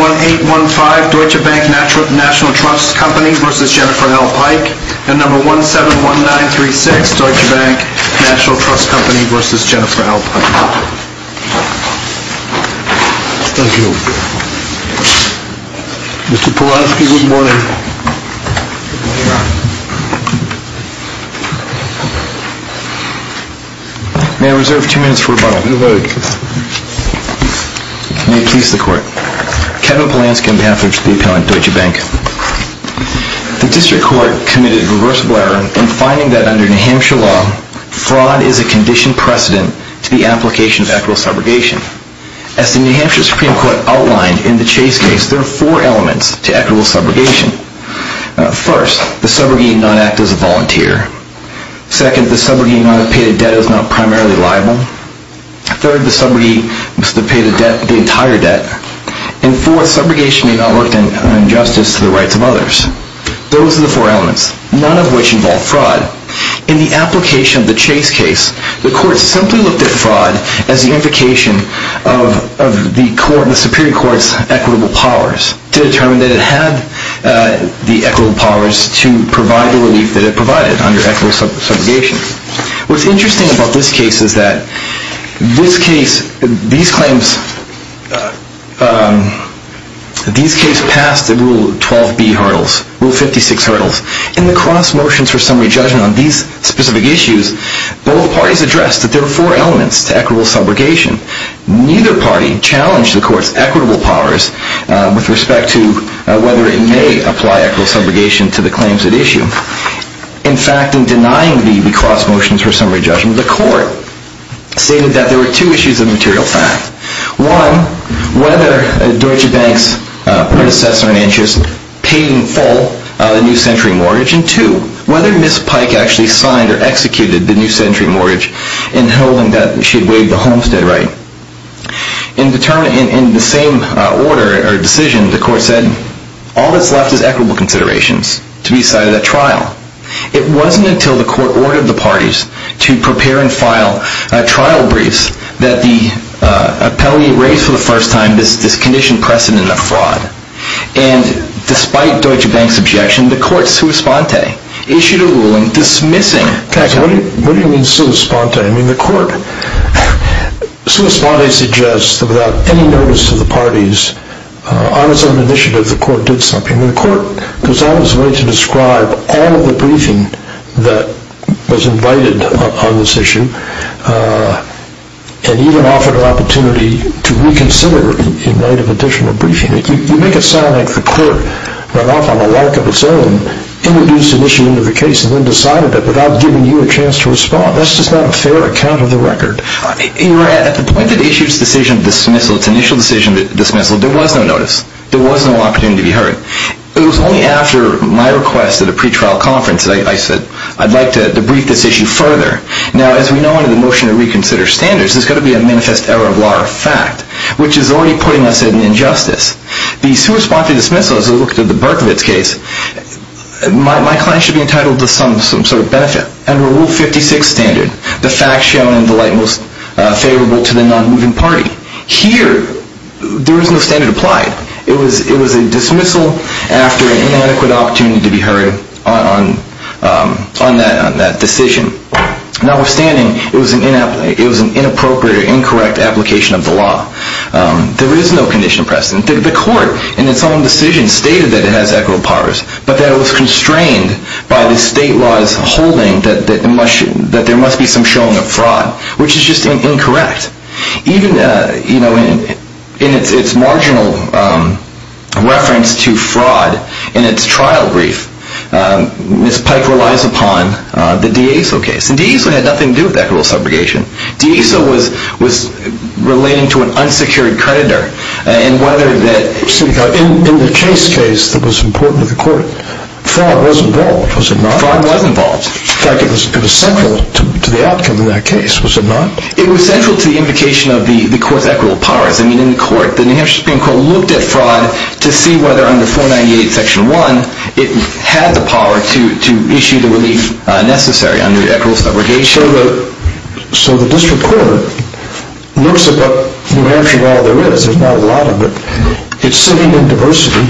171815 Deutsche Bank Nat'l Trust Co. v. Pike 171936 Deutsche Bank Nat'l Trust Co. v. Pike Kevin Polanski, on behalf of the Deutsche Bank The District Court committed a reversible error in finding that under New Hampshire law, fraud is a conditioned precedent to the application of equitable subrogation. As the New Hampshire Supreme Court outlined in the Chase case, there are four elements to equitable subrogation. First, the subrogate need not act as a volunteer. Second, the subrogate need not have paid a debt that is not primarily liable. Third, the subrogate must have paid the entire debt. And fourth, subrogation may not work an injustice to the rights of others. Those are the four elements, none of which involve fraud. In the application of the Chase case, the Court simply looked at fraud as the implication of the Supreme Court's equitable powers to determine that it had the equitable powers to provide the relief that it provided under equitable subrogation. What's interesting about this case is that these claims passed the Rule 12b hurdles, Rule 56 hurdles. In the cross motions for summary judgment on these specific issues, both parties addressed that there are four elements to equitable subrogation. Neither party challenged the Court's equitable powers with respect to whether it may apply equitable subrogation to the claims at issue. In fact, in denying the cross motions for summary judgment, the Court stated that there were two issues of material fact. One, whether Deutsche Bank's predecessor in interest paid in full the new century mortgage. And two, whether Ms. Pike actually signed or executed the new century mortgage in holding that she had waived the homestead right. In the same order or decision, the Court said all that's left is equitable considerations to be cited at trial. It wasn't until the Court ordered the parties to prepare and file trial briefs that the appellee raised for the first time this condition precedent of fraud. And despite Deutsche Bank's objection, the Court sous-spante, issued a ruling dismissing... What do you mean sous-spante? I mean, the Court sous-spante suggests that without any notice to the parties, on its own initiative, the Court did something. The Court goes all this way to describe all of the briefing that was invited on this issue, and even offered an opportunity to reconsider in light of additional briefing. You make it sound like the Court went off on a walk of its own, introduced an issue into the case, and then decided it without giving you a chance to respond. That's just not a fair account of the record. At the point that it issued its initial decision to dismissal, there was no notice. There was no opportunity to be heard. It was only after my request at a pretrial conference that I said, I'd like to debrief this issue further. Now, as we know under the motion to reconsider standards, there's got to be a manifest error of law or fact, which is already putting us in injustice. The sous-spante dismissal, as we look at the Berkovitz case, my client should be entitled to some sort of benefit. Under Rule 56 standard, the fact shown in the light most favorable to the non-moving party. Here, there is no standard applied. It was a dismissal after an inadequate opportunity to be heard on that decision. Notwithstanding, it was an inappropriate or incorrect application of the law. There is no condition of precedent. The Court, in its own decision, stated that it has echo powers, but that it was constrained by the state law's holding that there must be some showing of fraud, which is just incorrect. Even in its marginal reference to fraud in its trial brief, Ms. Pike relies upon the D'Eso case. D'Eso had nothing to do with equitable subrogation. D'Eso was relating to an unsecured creditor. In the case case that was important to the Court, fraud was involved, was it not? Fraud was involved. In fact, it was central to the outcome of that case, was it not? It was central to the indication of the Court's equitable powers. I mean, in the Court, the New Hampshire Supreme Court looked at fraud to see whether, under 498, Section 1, it had the power to issue the relief necessary under equitable subrogation. So the District Court looks at what New Hampshire law there is. There's not a lot of it. It's sitting in diversity.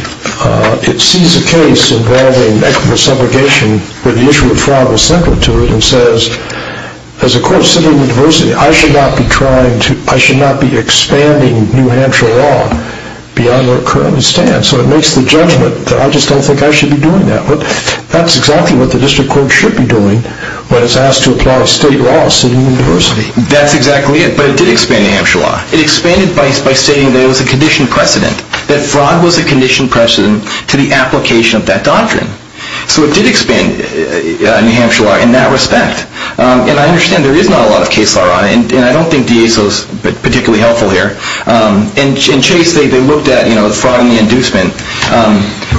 It sees a case involving equitable subrogation where the issue of fraud was central to it and says, as a court sitting in diversity, I should not be expanding New Hampshire law beyond where it currently stands. So it makes the judgment that I just don't think I should be doing that. But that's exactly what the District Court should be doing when it's asked to apply state law sitting in diversity. That's exactly it, but it did expand New Hampshire law. It expanded by stating that it was a conditioned precedent, that fraud was a conditioned precedent to the application of that doctrine. So it did expand New Hampshire law in that respect. And I understand there is not a lot of case law. And I don't think DASO is particularly helpful here. In Chase, they looked at the fraud and the inducement,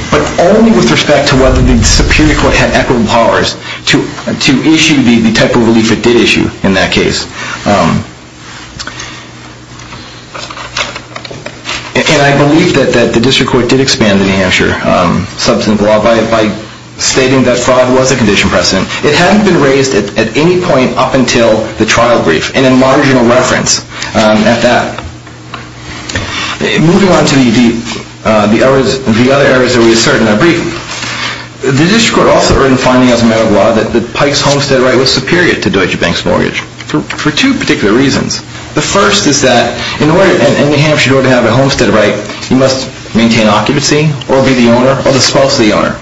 but only with respect to whether the Superior Court had equitable powers to issue the type of relief it did issue in that case. And I believe that the District Court did expand the New Hampshire substance law by stating that fraud was a conditioned precedent. It hadn't been raised at any point up until the trial brief, and in marginal reference at that. Moving on to the other errors that we asserted in our brief, the District Court also earned findings as a matter of law that Pike's homestead right was superior to Deutsche Bank's mortgage. For two particular reasons. The first is that in order to have a homestead right, you must maintain occupancy or be the owner or the spouse of the owner.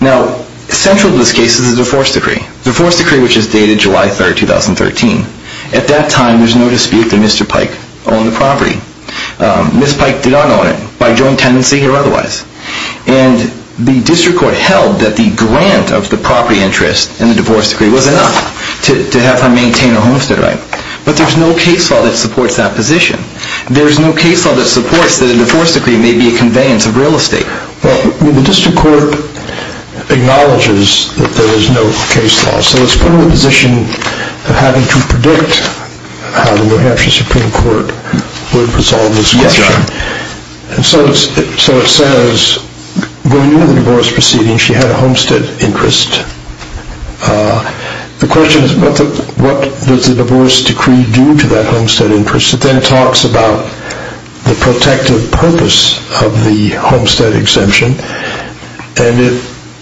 Now, central to this case is the divorce decree, the divorce decree which is dated July 3, 2013. At that time, there's no dispute that Mr. Pike owned the property. Ms. Pike did not own it by joint tenancy or otherwise. And the District Court held that the grant of the property interest in the divorce decree was enough to have her maintain her homestead right. But there's no case law that supports that position. There's no case law that supports that a divorce decree may be a conveyance of real estate. Well, the District Court acknowledges that there is no case law, so it's put in a position of having to predict how the New Hampshire Supreme Court would resolve this question. Yes, Your Honor. And so it says, going into the divorce proceeding, she had a homestead interest. The question is, what does the divorce decree do to that homestead interest? It then talks about the protective purpose of the homestead exemption. And it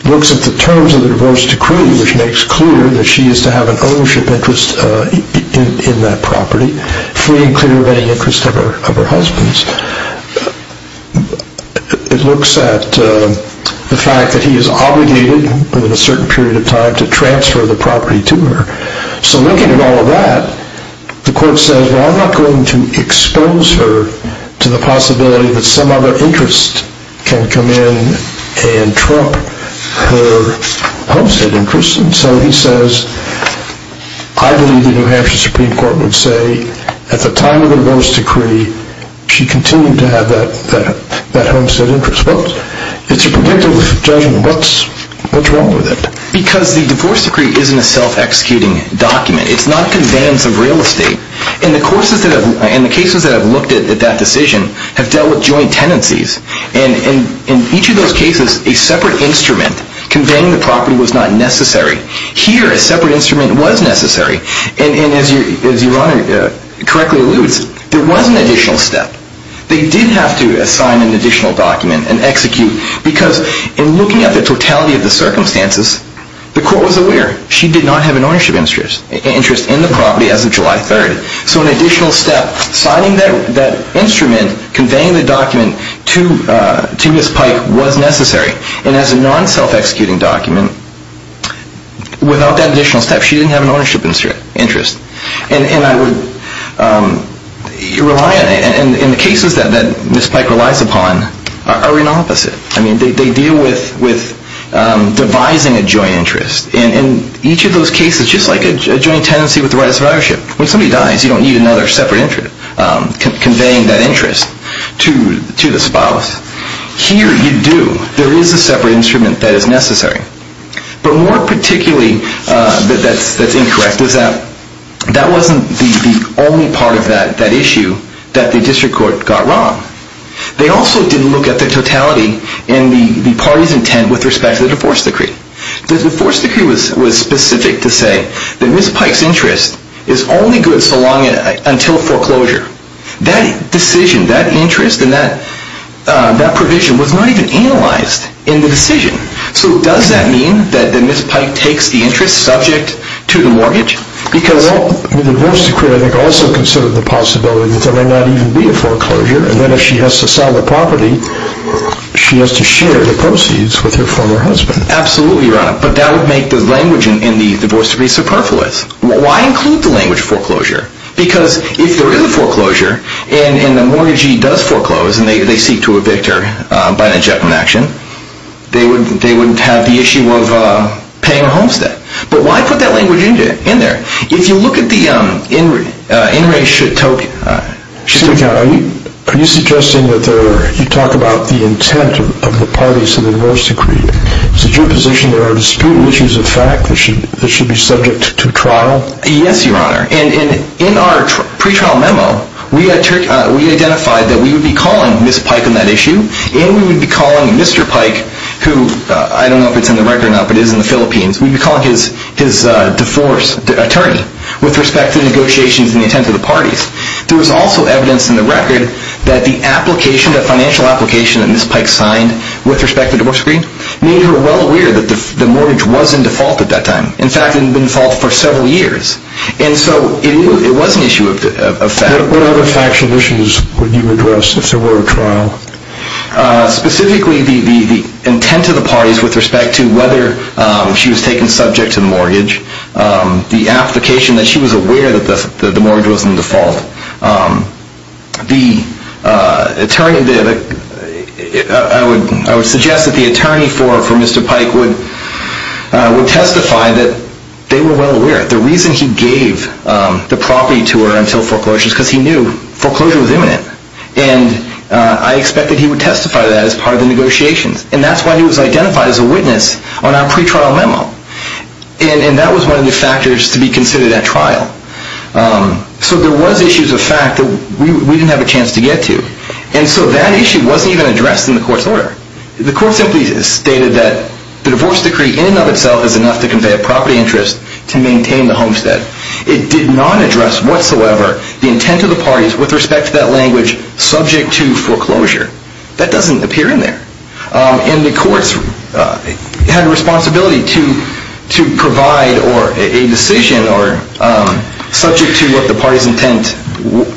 looks at the terms of the divorce decree, which makes clear that she is to have an ownership interest in that property, free and clear of any interest of her husband's. It looks at the fact that he is obligated, within a certain period of time, to transfer the property to her. So looking at all of that, the Court says, well, I'm not going to expose her to the possibility that some other interest can come in and trump her homestead interest. And so he says, I believe the New Hampshire Supreme Court would say, at the time of the divorce decree, she continued to have that homestead interest. Well, it's a predictive judgment. What's wrong with it? Because the divorce decree isn't a self-executing document. It's not a conveyance of real estate. And the cases that have looked at that decision have dealt with joint tenancies. And in each of those cases, a separate instrument conveying the property was not necessary. Here, a separate instrument was necessary. And as Your Honor correctly alludes, there was an additional step. They did have to assign an additional document and execute. Because in looking at the totality of the circumstances, the Court was aware she did not have an ownership interest in the property as of July 3rd. So an additional step, signing that instrument, conveying the document to Ms. Pike was necessary. And as a non-self-executing document, without that additional step, she didn't have an ownership interest. And I would rely on it. And the cases that Ms. Pike relies upon are an opposite. I mean, they deal with devising a joint interest. And in each of those cases, just like a joint tenancy with the right of survivorship, when somebody dies, you don't need another separate interest conveying that interest to the spouse. Here, you do. There is a separate instrument that is necessary. But more particularly, that's incorrect, is that that wasn't the only part of that issue that the District Court got wrong. They also didn't look at the totality in the party's intent with respect to the divorce decree. The divorce decree was specific to say that Ms. Pike's interest is only good until foreclosure. That decision, that interest and that provision was not even analyzed in the decision. So does that mean that Ms. Pike takes the interest subject to the mortgage? Well, the divorce decree, I think, also considered the possibility that there might not even be a foreclosure. And then if she has to sell the property, she has to share the proceeds with her former husband. Absolutely, Your Honor. But that would make the language in the divorce decree superfluous. Why include the language foreclosure? Because if there is a foreclosure and the mortgagee does foreclose and they seek to evict her by an injectment action, they wouldn't have the issue of paying a homestead. But why put that language in there? If you look at the in-race... Are you suggesting that you talk about the intent of the parties in the divorce decree? Is it your position there are disputed issues of fact that should be subject to trial? Yes, Your Honor. And in our pretrial memo, we identified that we would be calling Ms. Pike on that issue and we would be calling Mr. Pike, who I don't know if it's in the record or not, but it is in the Philippines, we would be calling his divorce attorney with respect to the negotiations and the intent of the parties. There was also evidence in the record that the application, the financial application that Ms. Pike signed with respect to the divorce decree made her well aware that the mortgage was in default at that time. In fact, it had been default for several years. And so it was an issue of fact. What other factual issues would you address if there were a trial? Specifically, the intent of the parties with respect to whether she was taken subject to the mortgage, the application that she was aware that the mortgage was in default. I would suggest that the attorney for Mr. Pike would testify that they were well aware. The reason he gave the property to her until foreclosure is because he knew foreclosure was imminent. And I expect that he would testify to that as part of the negotiations. And that's why he was identified as a witness on our pretrial memo. And that was one of the factors to be considered at trial. So there was issues of fact that we didn't have a chance to get to. And so that issue wasn't even addressed in the court's order. The court simply stated that the divorce decree in and of itself is enough to convey a property interest to maintain the homestead. It did not address whatsoever the intent of the parties with respect to that language subject to foreclosure. That doesn't appear in there. And the courts had a responsibility to provide a decision or subject to what the party's intent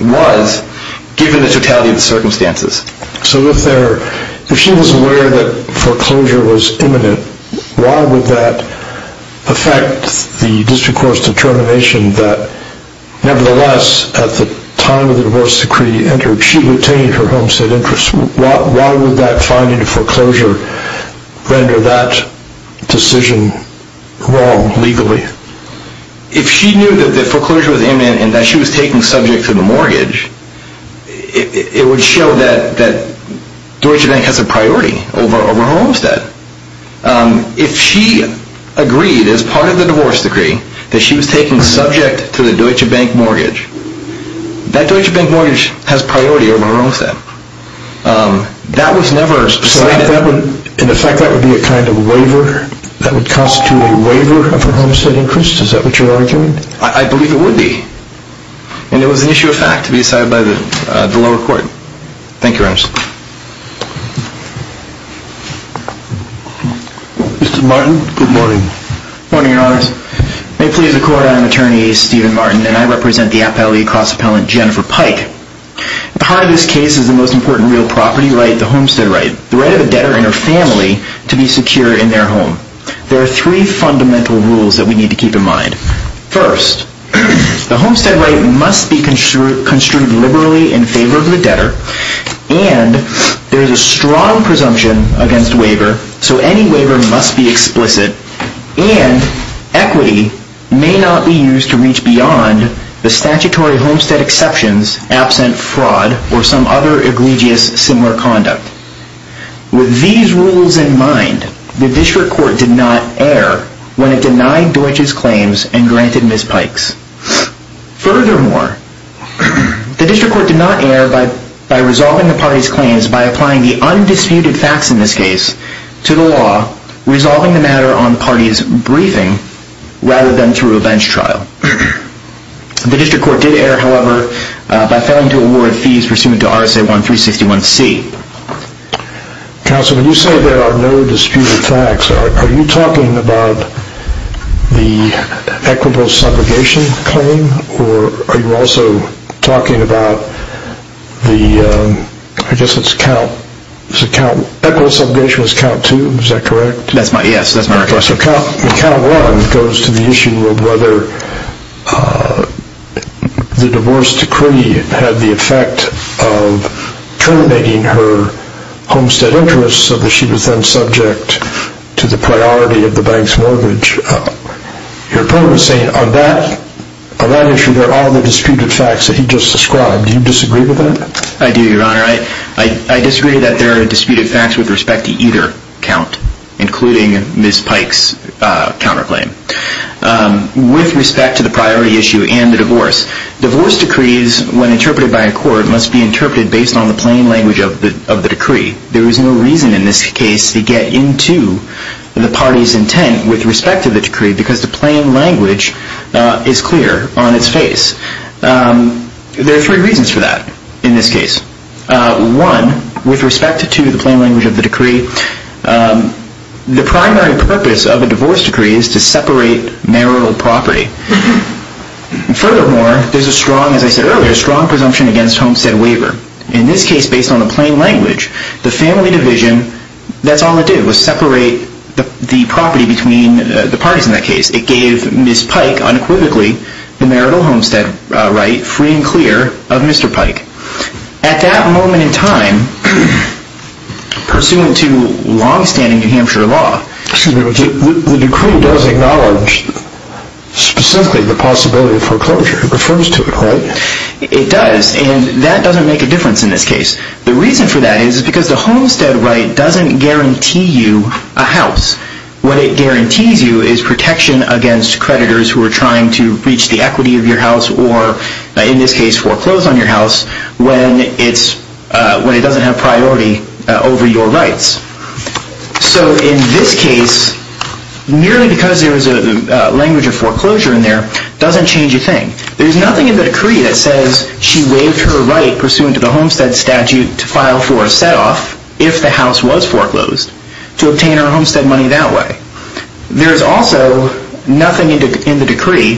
was given the totality of the circumstances. So if she was aware that foreclosure was imminent, why would that affect the district court's determination that nevertheless at the time of the divorce decree entered, she retained her homestead interest? Why would that finding foreclosure render that decision wrong legally? If she knew that foreclosure was imminent and that she was taken subject to the mortgage, it would show that Deutsche Bank has a priority over her homestead. If she agreed as part of the divorce decree that she was taken subject to the Deutsche Bank mortgage, that Deutsche Bank mortgage has priority over her homestead. That was never decided. So in effect that would be a kind of waiver? That would constitute a waiver of her homestead interest? Is that what you're arguing? I believe it would be. And it was an issue of fact to be decided by the lower court. Thank you, Your Honors. Mr. Martin, good morning. Good morning, Your Honors. May it please the Court, I am Attorney Steven Martin, and I represent the Appellee Cross Appellant Jennifer Pike. The heart of this case is the most important real property right, the homestead right, the right of a debtor and her family to be secure in their home. There are three fundamental rules that we need to keep in mind. First, the homestead right must be construed liberally in favor of the debtor, and there is a strong presumption against waiver, so any waiver must be explicit, and equity may not be used to reach beyond the statutory homestead exceptions, absent fraud or some other egregious similar conduct. With these rules in mind, the District Court did not err when it denied Deutsch's claims and granted Ms. Pike's. Furthermore, the District Court did not err by resolving the parties' claims by applying the undisputed facts in this case to the law, resolving the matter on parties' briefing rather than through a bench trial. The District Court did err, however, by failing to award fees pursuant to RSA 1361C. Counsel, when you say there are no disputed facts, are you talking about the equitable subrogation claim, or are you also talking about the, I guess it's count, equitable subrogation is count two, is that correct? Yes, that's my request. So count one goes to the issue of whether the divorce decree had the effect of terminating her homestead interest so that she was then subject to the priority of the bank's mortgage. Your opponent is saying on that issue there are all the disputed facts that he just described. Do you disagree with that? I do, Your Honor. I disagree that there are disputed facts with respect to either count, including Ms. Pike's counterclaim, with respect to the priority issue and the divorce. Divorce decrees, when interpreted by a court, must be interpreted based on the plain language of the decree. There is no reason in this case to get into the party's intent with respect to the decree because the plain language is clear on its face. There are three reasons for that in this case. One, with respect to the plain language of the decree, the primary purpose of a divorce decree is to separate marital property. Furthermore, there's a strong, as I said earlier, strong presumption against homestead waiver. In this case, based on the plain language, the family division, that's all it did, was separate the property between the parties in that case. It gave Ms. Pike, unequivocally, the marital homestead right free and clear of Mr. Pike. At that moment in time, pursuant to long-standing New Hampshire law... Excuse me, but the decree does acknowledge specifically the possibility of foreclosure. It refers to it, right? It does, and that doesn't make a difference in this case. The reason for that is because the homestead right doesn't guarantee you a house. What it guarantees you is protection against creditors who are trying to breach the equity of your house or, in this case, foreclose on your house when it doesn't have priority over your rights. So in this case, merely because there was a language of foreclosure in there doesn't change a thing. There's nothing in the decree that says she waived her right, pursuant to the homestead statute, to file for a set-off if the house was foreclosed to obtain her homestead money that way. There's also nothing in the decree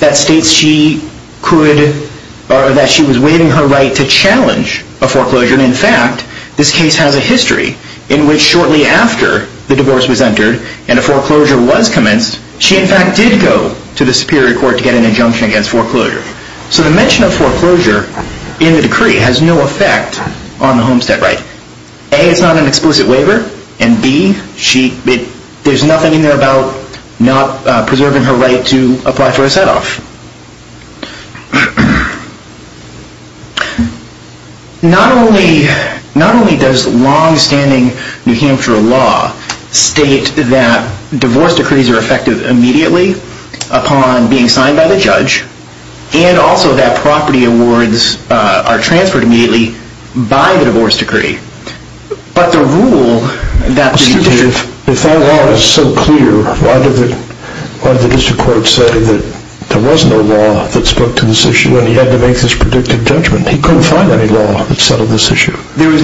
that states she was waiving her right to challenge a foreclosure. In fact, this case has a history in which shortly after the divorce was entered and a foreclosure was commenced, she, in fact, did go to the Superior Court to get an injunction against foreclosure. So the mention of foreclosure in the decree has no effect on the homestead right. A, it's not an explicit waiver, and B, there's nothing in there about not preserving her right to apply for a set-off. Not only does long-standing New Hampshire law state that divorce decrees are effective immediately upon being signed by the judge and also that property awards are transferred immediately by the divorce decree, but the rule that the... Excuse me, if that law is so clear, why did the district court say that there was no law that spoke to this issue and he had to make this predictive judgment? He couldn't find any law that settled this issue. There was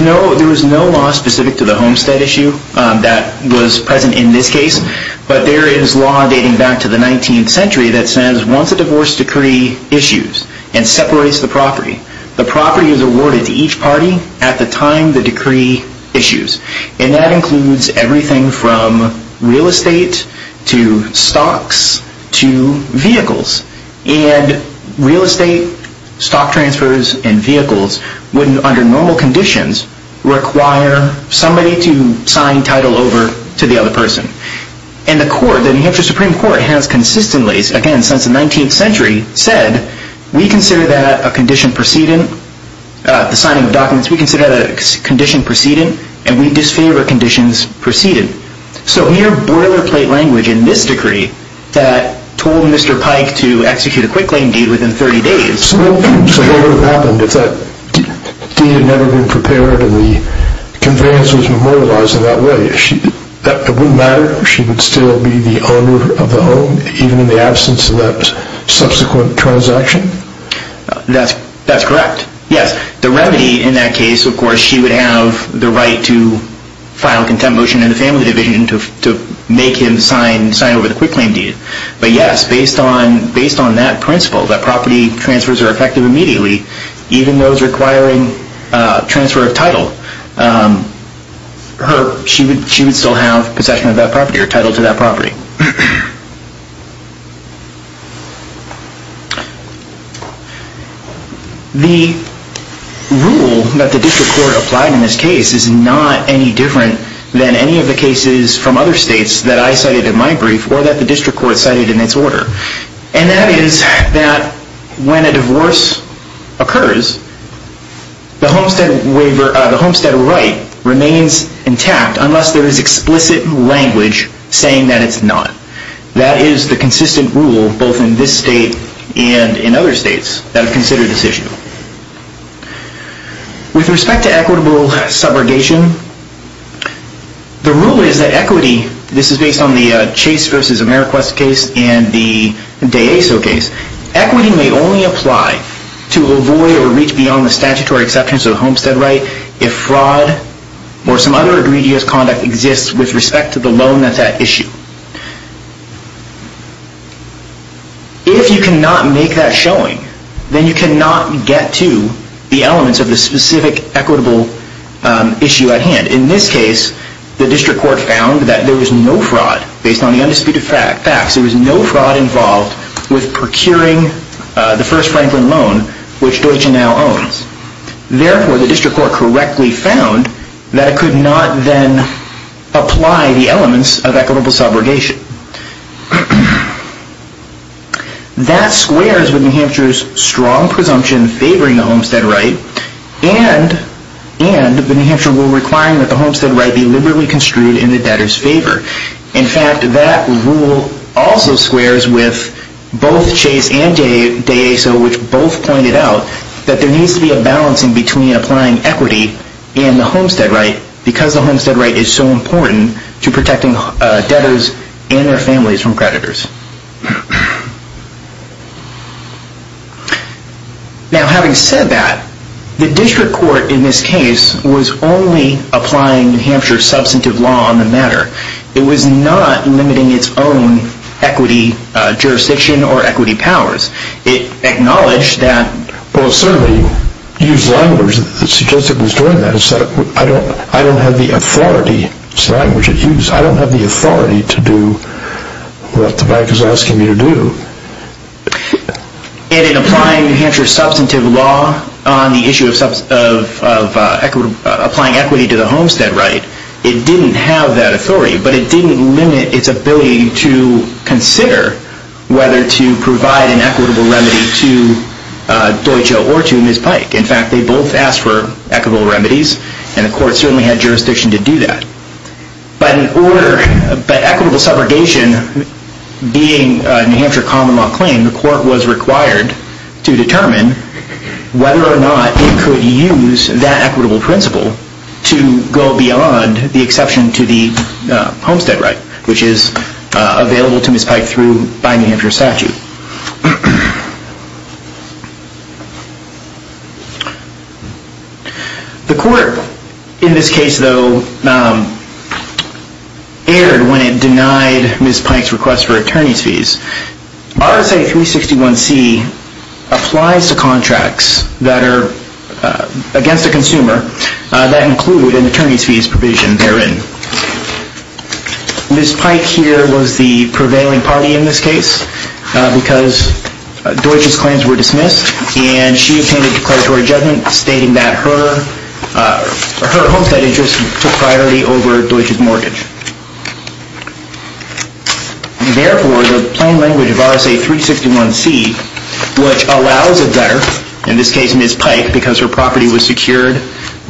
no law specific to the homestead issue that was present in this case, but there is law dating back to the 19th century that says once a divorce decree issues and separates the property, the property is awarded to each party at the time the decree issues. And that includes everything from real estate to stocks to vehicles. And real estate, stock transfers, and vehicles would, under normal conditions, require somebody to sign title over to the other person. And the court, the New Hampshire Supreme Court, has consistently, again, since the 19th century, said we consider that a condition precedent, the signing of documents, we consider that a condition precedent, and we disfavor conditions precedent. So in your boilerplate language in this decree that told Mr. Pike to execute a quick claim deed within 30 days... Conveyance was memorialized in that way. It wouldn't matter if she would still be the owner of the home, even in the absence of that subsequent transaction? That's correct, yes. The remedy in that case, of course, she would have the right to file a contempt motion in the family division to make him sign over the quick claim deed. But yes, based on that principle, that property transfers are effective immediately, even those requiring transfer of title, she would still have possession of that property or title to that property. The rule that the district court applied in this case is not any different than any of the cases from other states that I cited in my brief or that the district court cited in its order. And that is that when a divorce occurs, the homestead right remains intact unless there is explicit language saying that it's not. That is the consistent rule both in this state and in other states that have considered this issue. With respect to equitable subrogation, the rule is that equity... in the Chase v. Ameriquest case and the DeAso case, equity may only apply to avoid or reach beyond the statutory exceptions of the homestead right if fraud or some other egregious conduct exists with respect to the loan that's at issue. If you cannot make that showing, then you cannot get to the elements of the specific equitable issue at hand. In this case, the district court found that there was no fraud. Based on the undisputed facts, there was no fraud involved with procuring the first Franklin loan, which Deutsche now owns. Therefore, the district court correctly found that it could not then apply the elements of equitable subrogation. That squares with New Hampshire's strong presumption favoring the homestead right and the New Hampshire rule requiring that the homestead right be liberally construed in the debtor's favor. In fact, that rule also squares with both Chase and DeAso, which both pointed out that there needs to be a balancing between applying equity and the homestead right because the homestead right is so important to protecting debtors and their families from creditors. Now, having said that, the district court in this case was only applying New Hampshire's substantive law on the matter. It was not limiting its own equity jurisdiction or equity powers. It acknowledged that... Well, it certainly used language that suggested it was doing that. I don't have the authority... It's language it used. I don't have the authority to do what the bankers did. What the bank is asking you to do. And in applying New Hampshire's substantive law on the issue of applying equity to the homestead right, it didn't have that authority, but it didn't limit its ability to consider whether to provide an equitable remedy to Deutsche or to Ms. Pike. In fact, they both asked for equitable remedies, and the court certainly had jurisdiction to do that. But in order... But equitable subrogation, being a New Hampshire common law claim, the court was required to determine whether or not it could use that equitable principle to go beyond the exception to the homestead right, which is available to Ms. Pike by New Hampshire statute. The court, in this case, though, erred when it denied Ms. Pike's request for attorney's fees. RSA 361C applies to contracts that are against a consumer that include an attorney's fees provision therein. Ms. Pike here was the prevailing party in this case. Because Deutsche's claims were dismissed, and she obtained a declaratory judgment stating that her homestead interest took priority over Deutsche's mortgage. Therefore, the plain language of RSA 361C, which allows a debtor, in this case, Ms. Pike, because her property was secured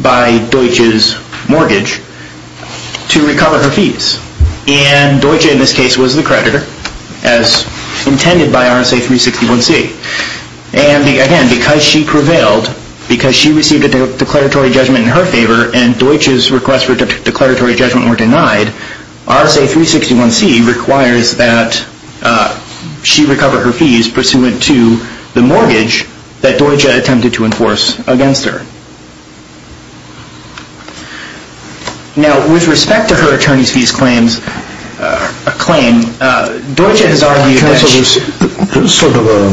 by Deutsche's mortgage, to recover her fees. And Deutsche, in this case, was the creditor, as intended by RSA 361C. And again, because she prevailed, because she received a declaratory judgment in her favor, and Deutsche's requests for declaratory judgment were denied, RSA 361C requires that she recover her fees pursuant to the mortgage that Deutsche attempted to enforce against her. Now, with respect to her attorney's fees claims, a claim, Deutsche has argued that she... Counsel, there's sort of a,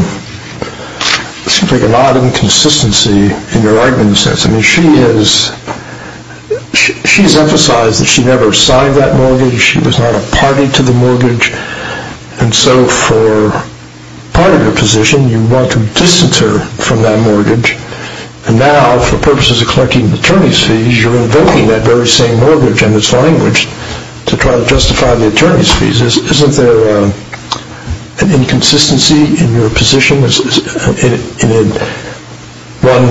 seems like an odd inconsistency in your argument in a sense. I mean, she has emphasized that she never signed that mortgage. She was not a party to the mortgage. And so, for part of your position, you want to distance her from that mortgage. And now, for purposes of collecting the attorney's fees, you're invoking that very same mortgage and its language to try to justify the attorney's fees. Isn't there an inconsistency in your position? Is it one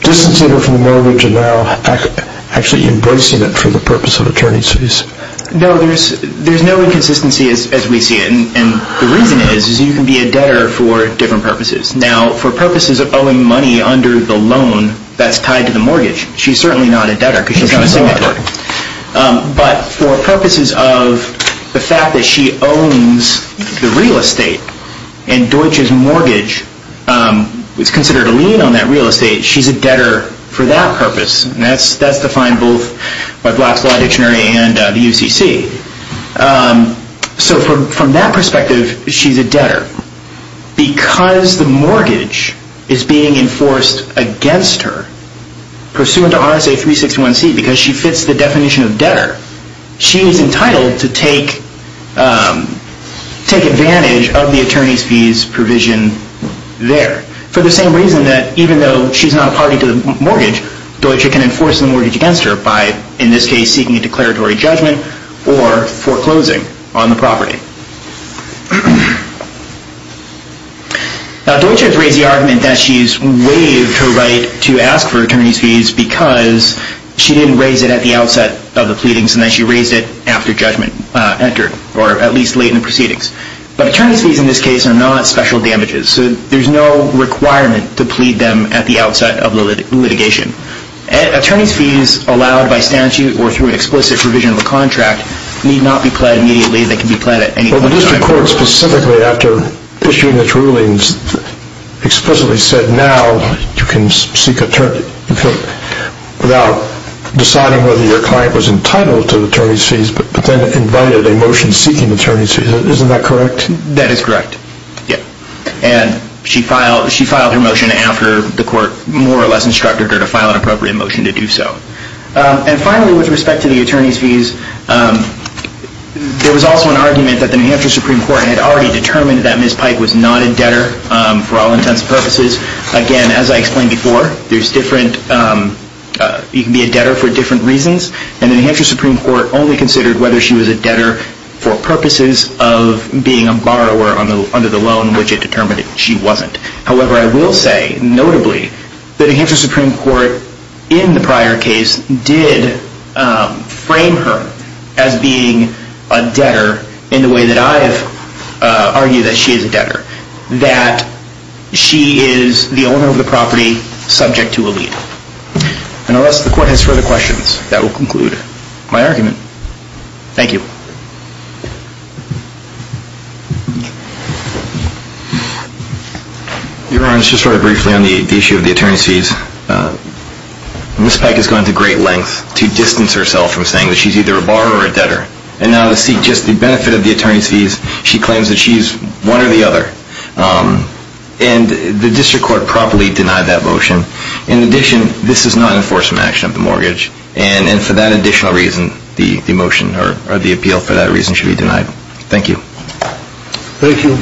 distancing her from the mortgage and now actually embracing it for the purpose of attorney's fees? No, there's no inconsistency as we see it. And the reason is, is you can be a debtor for different purposes. Now, for purposes of owing money under the loan that's tied to the mortgage, she's certainly not a debtor because she's not a signatory. But for purposes of the fact that she owns the real estate and Deutsche's mortgage is considered a lien on that real estate, she's a debtor for that purpose. And that's defined both by Black's Law Dictionary and the UCC. So from that perspective, she's a debtor. Because the mortgage is being enforced against her, pursuant to RSA 361c, because she fits the definition of debtor, she is entitled to take advantage of the attorney's fees provision there. For the same reason that even though she's not a party to the mortgage, Deutsche can enforce the mortgage against her by, in this case, seeking a declaratory judgment or foreclosing on the property. Now, Deutsche has raised the argument that she's waived her right to ask for attorney's fees because she didn't raise it at the outset of the pleadings, and that she raised it after judgment entered, or at least late in the proceedings. But attorney's fees, in this case, are not special damages. So there's no requirement to plead them at the outset of the litigation. Attorney's fees, allowed by statute or through an explicit provision of a contract, Well, the district court specifically after issuing its rulings explicitly said, now you can seek attorney's fees without deciding whether your client was entitled to attorney's fees, but then invited a motion seeking attorney's fees. Isn't that correct? That is correct. And she filed her motion after the court more or less instructed her to file an appropriate motion to do so. And finally, with respect to the attorney's fees, there was also an argument that the New Hampshire Supreme Court had already determined that Ms. Pike was not a debtor for all intents and purposes. Again, as I explained before, you can be a debtor for different reasons, and the New Hampshire Supreme Court only considered whether she was a debtor for purposes of being a borrower under the loan, which it determined she wasn't. However, I will say, notably, the New Hampshire Supreme Court, in the prior case, did frame her as being a debtor in the way that I have argued that she is a debtor, that she is the owner of the property subject to a lien. And unless the court has further questions, that will conclude my argument. Thank you. Your Honor, I'll just write briefly on the issue of the attorney's fees. Ms. Pike has gone to great lengths to distance herself from saying that she's either a borrower or a debtor. And now to seek just the benefit of the attorney's fees, she claims that she's one or the other. And the district court properly denied that motion. In addition, this is not an enforcement action of the mortgage, and for that additional reason, the motion or the appeal for that reason should be denied. Thank you. Thank you.